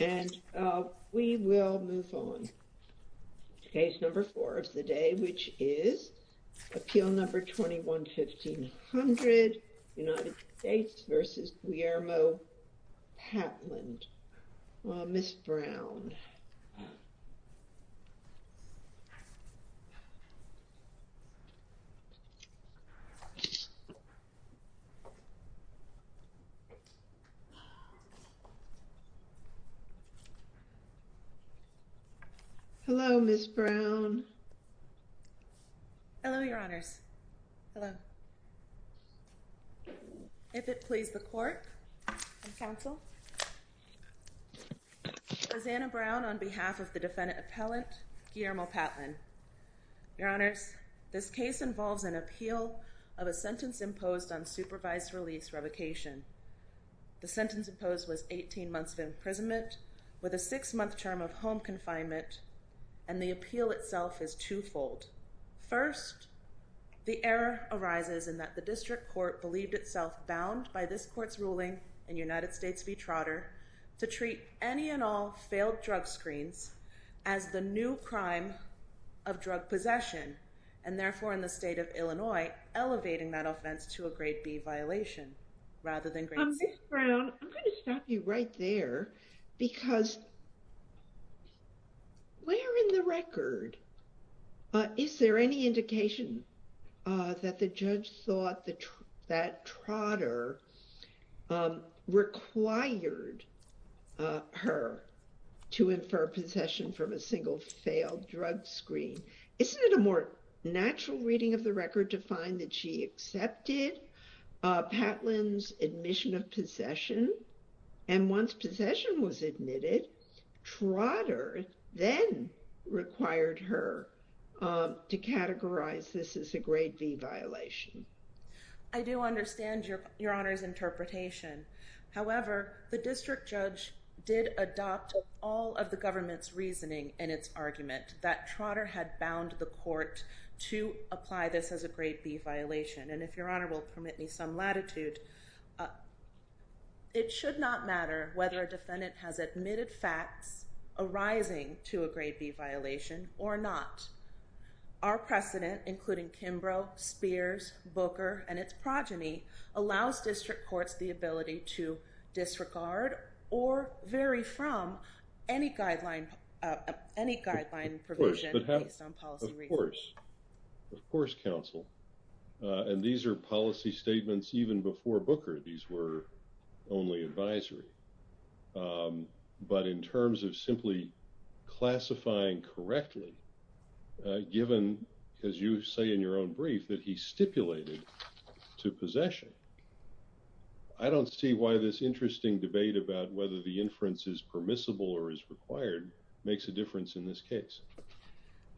And we will move on to case number four of the day, which is appeal number 21-1500, United States v. Guillermo Patlan. Ms. Brown. Hello, Ms. Brown. Hello, Your Honors. Hello. If it please the court and counsel, Lizana Brown on behalf of the defendant appellant, Guillermo Patlan. Your Honors, this case involves an appeal of a sentence imposed on supervised release revocation. The sentence imposed was 18 months of imprisonment with a six-month term of home confinement, and the appeal itself is twofold. First, the error arises in that the district court believed itself bound by this court's ruling in United States v. Trotter to treat any and all failed drug screens and therefore in the state of Illinois, elevating that offense to a grade B violation rather than grade C. Ms. Brown, I'm going to stop you right there because where in the record is there any indication that the judge thought that Trotter required her to infer possession from a single failed drug screen? Isn't it a more natural reading of the record to find that she accepted Patlan's admission of possession and once possession was admitted, Trotter then required her to categorize this as a grade B violation? I do understand Your Honors' interpretation. However, the district judge did adopt all of the government's reasoning in its argument that Trotter had bound the court to apply this as a grade B violation. And if Your Honor will permit me some latitude, it should not matter whether a defendant has admitted facts arising to a grade B violation or not. Our precedent, including Kimbrough, Spears, Booker, and its progeny, allows district courts the ability to disregard or vary from any guideline provision based on policy reasoning. Of course. Of course, counsel. And these are policy statements even before Booker. These were only advisory. But in terms of simply classifying correctly, given, as you say in your own brief, that he stipulated to possession, I don't see why this interesting debate about whether the inference is permissible or is required makes a difference in this case.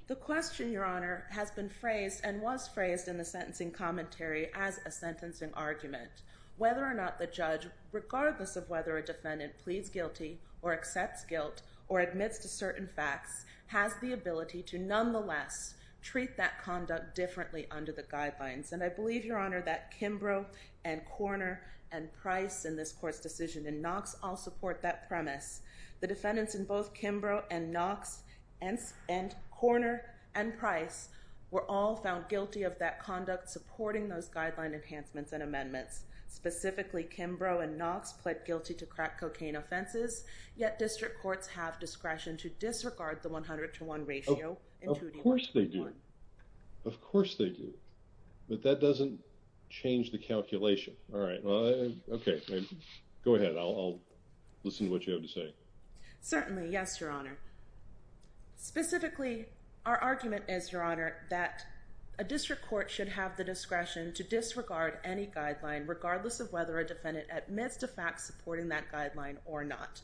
The question, Your Honor, has been phrased and was phrased in the sentencing commentary as a sentencing argument. Whether or not the judge, regardless of whether a defendant pleads guilty or accepts guilt or admits to certain facts, has the ability to nonetheless treat that conduct differently under the guidelines. And I believe, Your Honor, that Kimbrough and Korner and Price in this court's decision in Knox all support that premise. The defendants in both Kimbrough and Knox and Korner and Price were all found guilty of that conduct supporting those guideline enhancements and amendments. Specifically, Kimbrough and Knox pled guilty to crack cocaine offenses, yet district courts have discretion to disregard the 100 to 1 ratio. Of course they do. Of course they do. But that doesn't change the calculation. All right. Okay. Go ahead. I'll listen to what you have to say. Certainly, yes, Your Honor. Specifically, our argument is, Your Honor, that a district court should have the discretion to disregard any guideline, regardless of whether a defendant admits to facts supporting that guideline or not,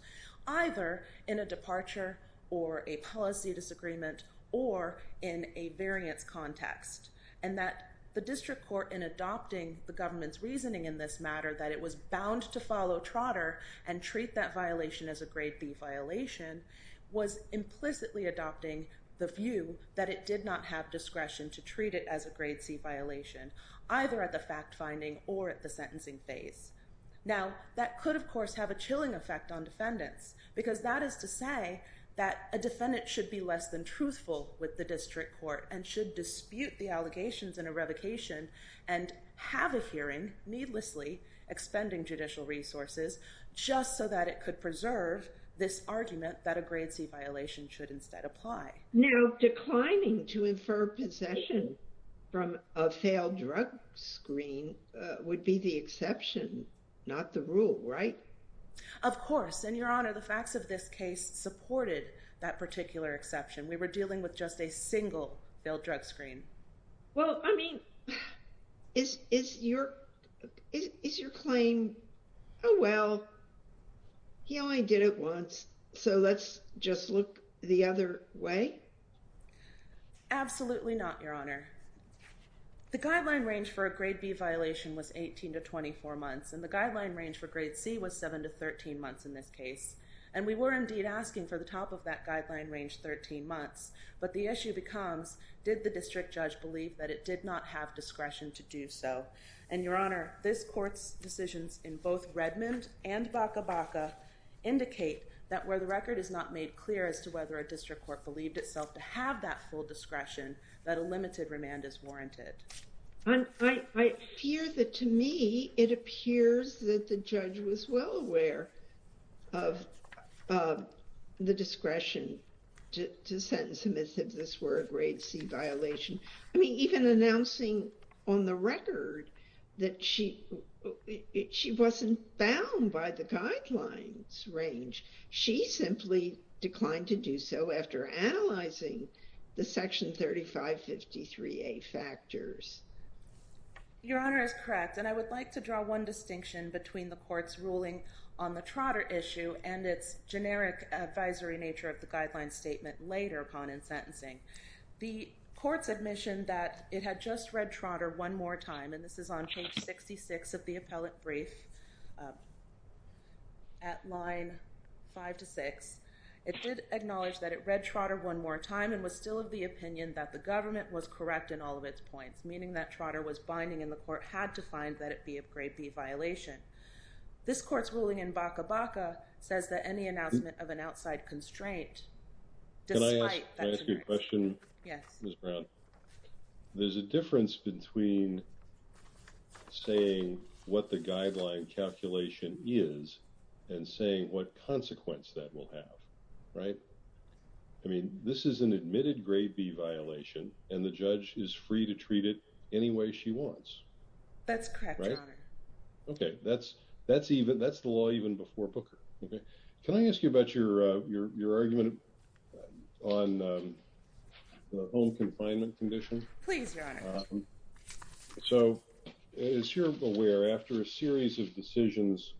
either in a departure or a policy disagreement or in a variance context. And that the district court in adopting the government's reasoning in this matter that it was bound to follow Trotter and treat that violation as a grade B violation was implicitly adopting the view that it did not have discretion to treat it as a grade C violation, either at the fact-finding or at the sentencing phase. Now, that could, of course, have a chilling effect on defendants because that is to say that a defendant should be less than truthful with the district court and should dispute the allegations in a revocation and have a hearing, needlessly, expending judicial resources, just so that it could preserve this argument that a grade C violation should instead apply. Now, declining to infer possession from a failed drug screen would be the exception, not the rule, right? Of course. And, Your Honor, the facts of this case supported that particular exception. We were dealing with just a single failed drug screen. Well, I mean, is your claim, oh, well, he only did it once, so let's just look the other way? Absolutely not, Your Honor. The guideline range for a grade B violation was 18 to 24 months, and the guideline range for grade C was 7 to 13 months in this case. And we were indeed asking for the top of that guideline range 13 months. But the issue becomes, did the district judge believe that it did not have discretion to do so? And, Your Honor, this court's decisions in both Redmond and Baca-Baca indicate that where the record is not made clear as to whether a district court believed itself to have that full discretion, that a limited remand is warranted. I fear that, to me, it appears that the judge was well aware of the discretion to sentence him if this were a grade C violation. I mean, even announcing on the record that she wasn't bound by the guidelines range, she simply declined to do so after analyzing the Section 3553A factors. Your Honor is correct, and I would like to draw one distinction between the court's ruling on the Trotter issue and its generic advisory nature of the guideline statement later upon in sentencing. The court's admission that it had just read Trotter one more time, and this is on page 66 of the appellate brief at line 5 to 6, it did acknowledge that it read Trotter one more time and was still of the opinion that the government was correct in all of its points, meaning that Trotter was binding and the court had to find that it be a grade B violation. This court's ruling in Baca-Baca says that any announcement of an outside constraint, despite that generic statement. Can I ask you a question, Ms. Brown? Yes. There's a difference between saying what the guideline calculation is and saying what consequence that will have, right? I mean, this is an admitted grade B violation, and the judge is free to treat it any way she wants. That's correct, Your Honor. Okay, that's the law even before Booker. Can I ask you about your argument on the home confinement condition? Please, Your Honor. So as you're aware, after a series of decisions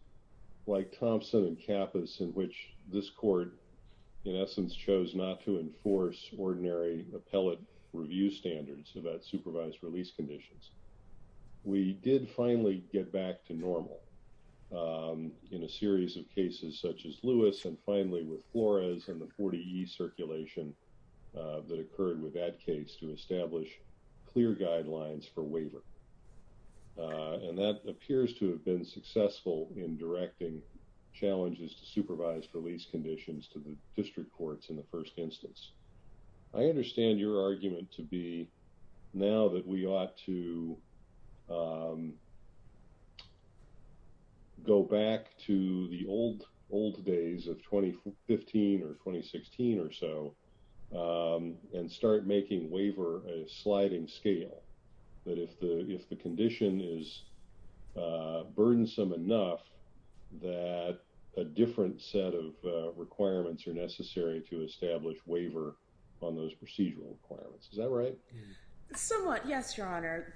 like Thompson and Kappas in which this court, in essence, chose not to enforce ordinary appellate review standards about supervised release conditions, we did finally get back to normal in a series of cases such as Lewis and finally with Flores and the 40E circulation that occurred with that case to establish clear guidelines for waiver. And that appears to have been successful in directing challenges to supervised release conditions to the district courts in the first instance. I understand your argument to be, now that we ought to go back to the old days of 2015 or 2016 or so and start making waiver a sliding scale, that if the condition is burdensome enough that a different set of requirements are necessary to establish waiver on those procedural requirements. Is that right? Somewhat, yes, Your Honor.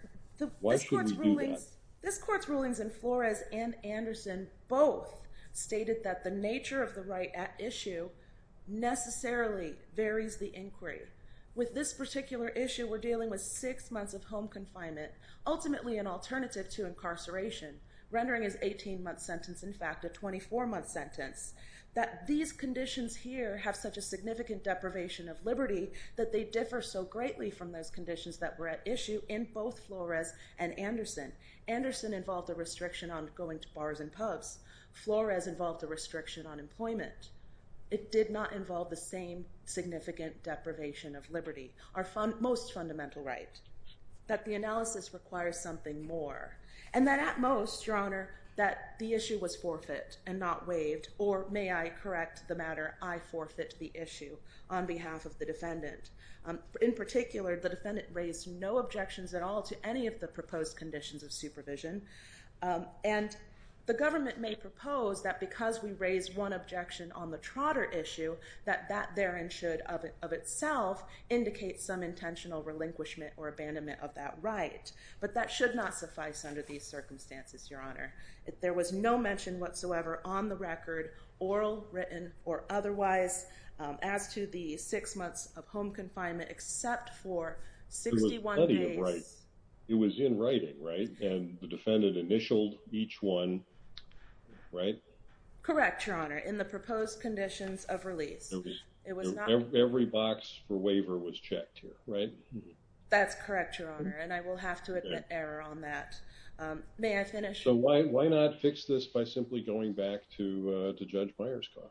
Why should we do that? This court's rulings in Flores and Anderson both stated that the nature of the right at issue necessarily varies the inquiry. With this particular issue, we're dealing with six months of home confinement, ultimately an alternative to incarceration, rendering his 18-month sentence, in fact, a 24-month sentence. That these conditions here have such a significant deprivation of liberty that they differ so greatly from those conditions that were at issue in both Flores and Anderson. Anderson involved a restriction on going to bars and pubs. Flores involved a restriction on employment. It did not involve the same significant deprivation of liberty, our most fundamental right, that the analysis requires something more and that at most, Your Honor, that the issue was forfeit and not waived, or may I correct the matter, I forfeit the issue on behalf of the defendant. In particular, the defendant raised no objections at all to any of the proposed conditions of supervision, and the government may propose that because we raised one objection on the trotter issue, that that therein should of itself indicate some intentional relinquishment or abandonment of that right. But that should not suffice under these circumstances, Your Honor. There was no mention whatsoever on the record, oral, written, or otherwise, as to the six months of home confinement, except for 61 days. It was in writing, right? And the defendant initialed each one, right? Correct, Your Honor, in the proposed conditions of release. Every box for waiver was checked here, right? That's correct, Your Honor, and I will have to admit error on that. May I finish? So why not fix this by simply going back to Judge Myerscough?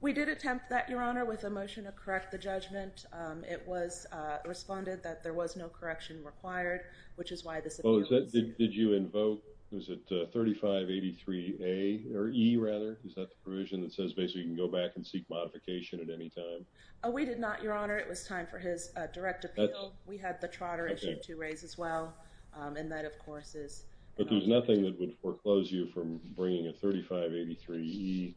We did attempt that, Your Honor, with a motion to correct the judgment. It was responded that there was no correction required, which is why this appeal was... Oh, did you invoke, was it 3583A, or E rather? Is that the provision that says basically you can go back and seek modification at any time? Oh, we did not, Your Honor. It was time for his direct appeal. We had the Trotter issue to raise as well, and that, of course, is... But there's nothing that would foreclose you from bringing a 3583E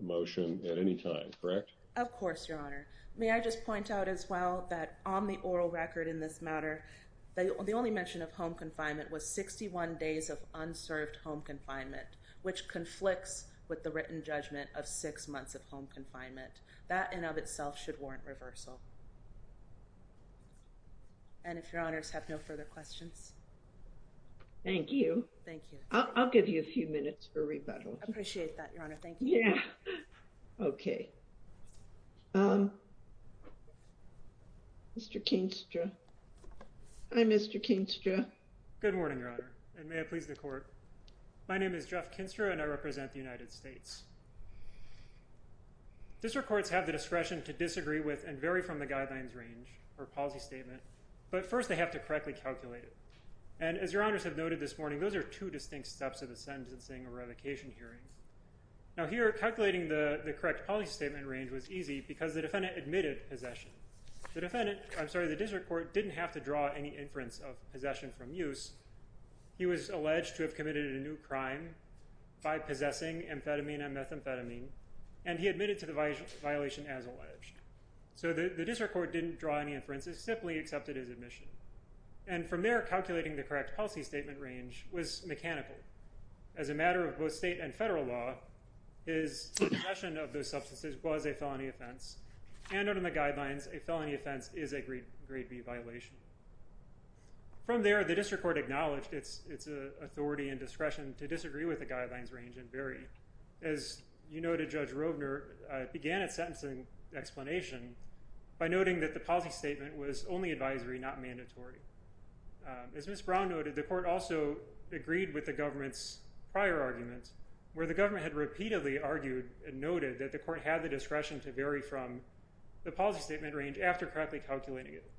motion at any time, correct? Of course, Your Honor. May I just point out as well that on the oral record in this matter, the only mention of home confinement was 61 days of unserved home confinement, which conflicts with the written judgment of six months of home confinement. That in of itself should warrant reversal. And if Your Honors have no further questions. Thank you. Thank you. I'll give you a few minutes for rebuttal. I appreciate that, Your Honor. Thank you. Yeah. Okay. Mr. Kinstra. Hi, Mr. Kinstra. Good morning, Your Honor, and may it please the Court. My name is Jeff Kinstra, and I represent the United States. District courts have the discretion to disagree with and vary from the guidelines range or policy statement, but first they have to correctly calculate it. And as Your Honors have noted this morning, those are two distinct steps of a sentencing or revocation hearing. Now, here, calculating the correct policy statement range was easy because the defendant admitted possession. The defendant... I'm sorry, the district court didn't have to draw any inference of possession from use. He was alleged to have committed a new crime by possessing amphetamine and methamphetamine, and he admitted to the violation as alleged. So the district court didn't draw any inferences, simply accepted his admission. And from there, calculating the correct policy statement range was mechanical. As a matter of both state and federal law, his possession of those substances was a felony offense, and under the guidelines, a felony offense is a Grade B violation. From there, the district court acknowledged its authority and discretion to disagree with the guidelines range and vary. As you noted, Judge Roebner began its sentencing explanation by noting that the policy statement was only advisory, not mandatory. As Ms. Brown noted, the court also agreed with the government's prior arguments where the government had repeatedly argued and noted that the court had the discretion to vary from the policy statement range after correctly calculating it.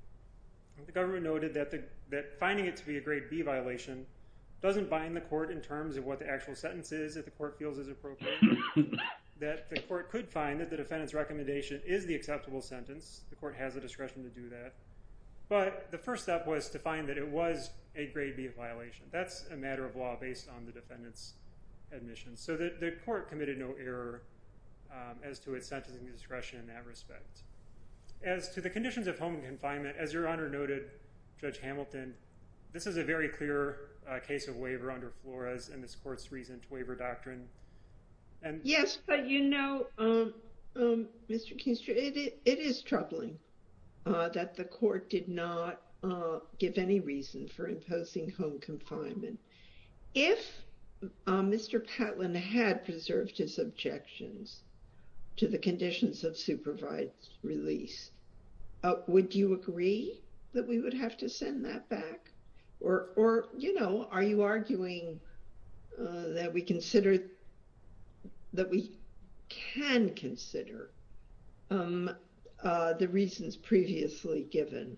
The government noted that finding it to be a Grade B violation doesn't bind the court in terms of what the actual sentence is that the court feels is appropriate, that the court could find that the defendant's recommendation is the acceptable sentence. The court has the discretion to do that. But the first step was to find that it was a Grade B violation. That's a matter of law based on the defendant's admission. So the court committed no error as to its sentencing discretion in that respect. As to the conditions of home confinement, as Your Honor noted, Judge Hamilton, this is a very clear case of waiver under Flores and this court's recent waiver doctrine. Yes, but you know, Mr. Kinstra, it is troubling that the court did not give any reason for imposing home confinement. If Mr. Patlin had preserved his objections to the conditions of supervised release, would you agree that we would have to send that back? Or, you know, are you arguing that we consider, that we can consider the reasons previously given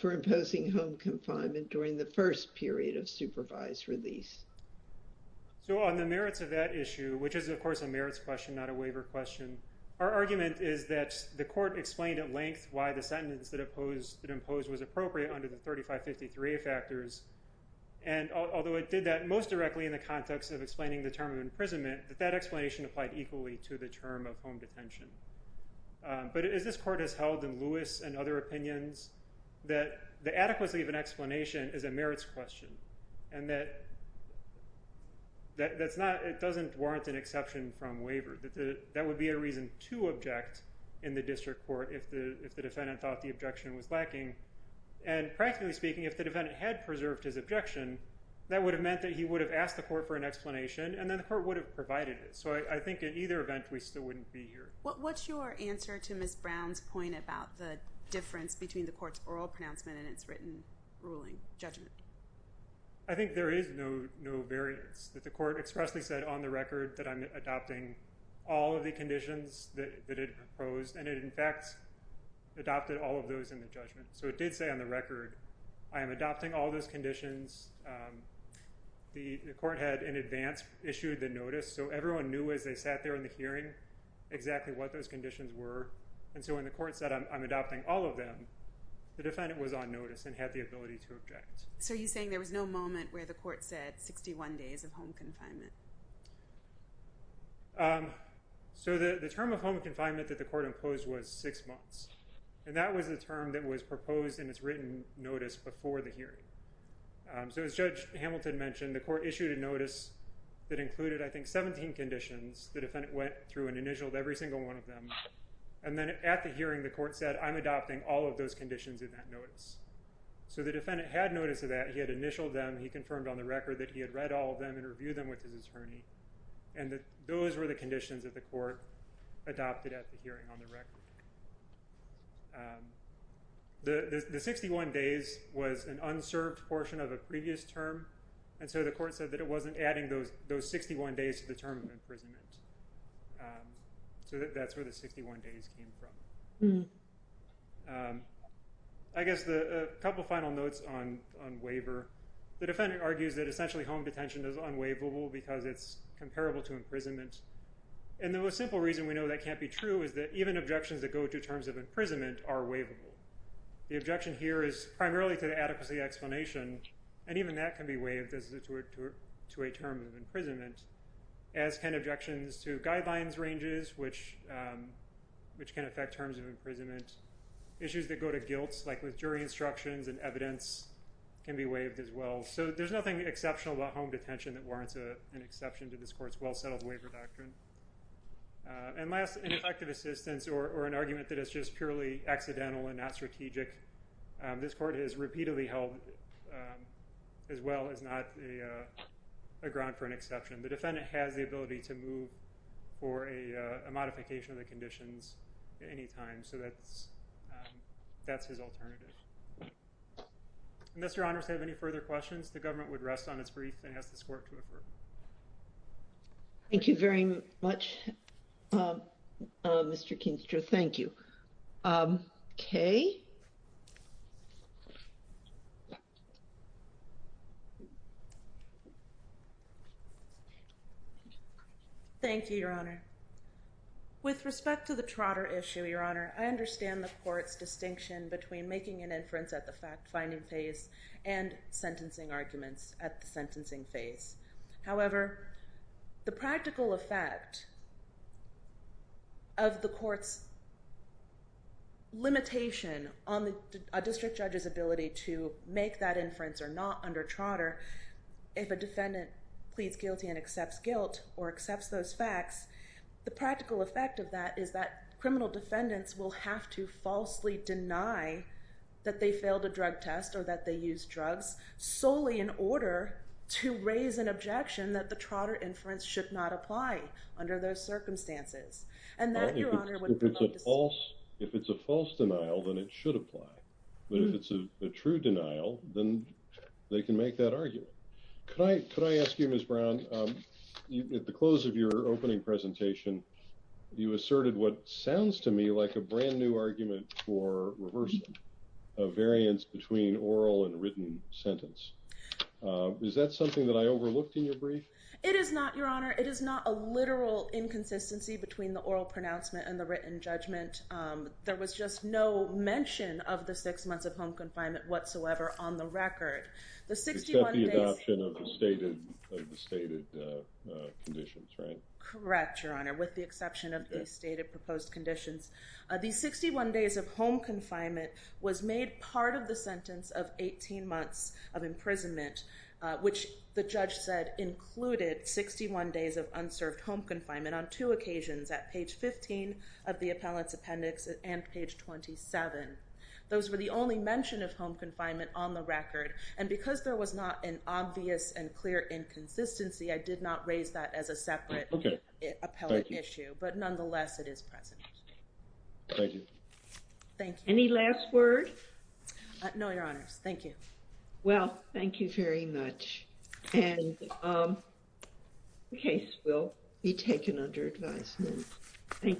for imposing home confinement during the first period of supervised release? So on the merits of that issue, which is of course a merits question, not a waiver question, our argument is that the court explained at length why the sentence that it imposed was appropriate under the 3553 factors. And although it did that most directly in the context of explaining the term of imprisonment, that that explanation applied equally to the term of home detention. But as this court has held in Lewis and other opinions, that the adequacy of an explanation is a merits question. And that it doesn't warrant an exception from waiver. That would be a reason to object in the district court if the defendant thought the objection was lacking. And practically speaking, if the defendant had preserved his objection, that would have meant that he would have asked the court for an explanation, and then the court would have provided it. So I think in either event, we still wouldn't be here. What's your answer to Ms. Brown's point about the difference between the court's oral pronouncement and its written ruling judgment? I think there is no variance. That the court expressly said on the record that I'm adopting all of the conditions that it proposed. And it in fact adopted all of those in the judgment. So it did say on the record, I am adopting all those conditions. The court had in advance issued the notice, so everyone knew as they sat there in the hearing exactly what those conditions were. And so when the court said, I'm adopting all of them, the defendant was on notice and had the ability to object. So you're saying there was no moment where the court said 61 days of home confinement? So the term of home confinement that the court imposed was six months. And that was the term that was proposed in its written notice before the hearing. So as Judge Hamilton mentioned, the court issued a notice that included, I think, 17 conditions. The defendant went through and initialed every single one of them. And then at the hearing, the court said, I'm adopting all of those conditions in that notice. So the defendant had notice of that. He had initialed them. He confirmed on the record that he had read all of them and reviewed them with his attorney. And those were the conditions that the court adopted at the hearing on the record. The 61 days was an unserved portion of a previous term. And so the court said that it wasn't adding those 61 days to the term of imprisonment. So that's where the 61 days came from. I guess a couple of final notes on waiver. The defendant argues that essentially home detention is unwaivable because it's comparable to imprisonment. And the simple reason we know that can't be true is that even objections that go to terms of imprisonment are waivable. The objection here is primarily to the adequacy explanation. And even that can be waived to a term of imprisonment, as can objections to guidelines ranges, which can affect terms of imprisonment. Issues that go to guilts, like with jury instructions and evidence, can be waived as well. So there's nothing exceptional about home detention that warrants an exception to this court's well-settled waiver doctrine. And last, ineffective assistance or an argument that is just purely accidental and not strategic. This court has repeatedly held it as well as not a ground for an exception. The defendant has the ability to move for a modification of the conditions at any time. So that's his alternative. Unless your honors have any further questions, the government would rest on its brief and ask this court to refer. Thank you very much, Mr. Kingsgrove. Thank you. Kay? Thank you, Your Honor. With respect to the Trotter issue, Your Honor, I understand the court's distinction between making an inference at the fact-finding phase and sentencing arguments at the sentencing phase. However, the practical effect of the court's limitation on a district judge's ability to make that inference or not under Trotter, if a defendant pleads guilty and accepts guilt or accepts those facts, the practical effect of that is that criminal defendants will have to falsely deny that they failed a drug test or that they used drugs solely in order to raise an objection that the Trotter inference should not apply under those circumstances. If it's a false denial, then it should apply. But if it's a true denial, then they can make that argument. Could I ask you, Ms. Brown, at the close of your opening presentation, you asserted what sounds to me like a brand-new argument for reversing a variance between oral and written sentence. Is that something that I overlooked in your brief? It is not, Your Honor. It is not a literal inconsistency between the oral pronouncement and the written judgment. There was just no mention of the six months of home confinement whatsoever on the record. Except the adoption of the stated conditions, right? Correct, Your Honor, with the exception of the stated proposed conditions. The 61 days of home confinement was made part of the sentence of 18 months of imprisonment, which the judge said included 61 days of unserved home confinement on two occasions, at page 15 of the appellate's appendix and page 27. Those were the only mention of home confinement on the record. And because there was not an obvious and clear inconsistency, I did not raise that as a separate appellate issue. But nonetheless, it is present. Thank you. Thank you. Any last words? No, Your Honors. Thank you. Well, thank you very much. And the case will be taken under advisement. Thank you.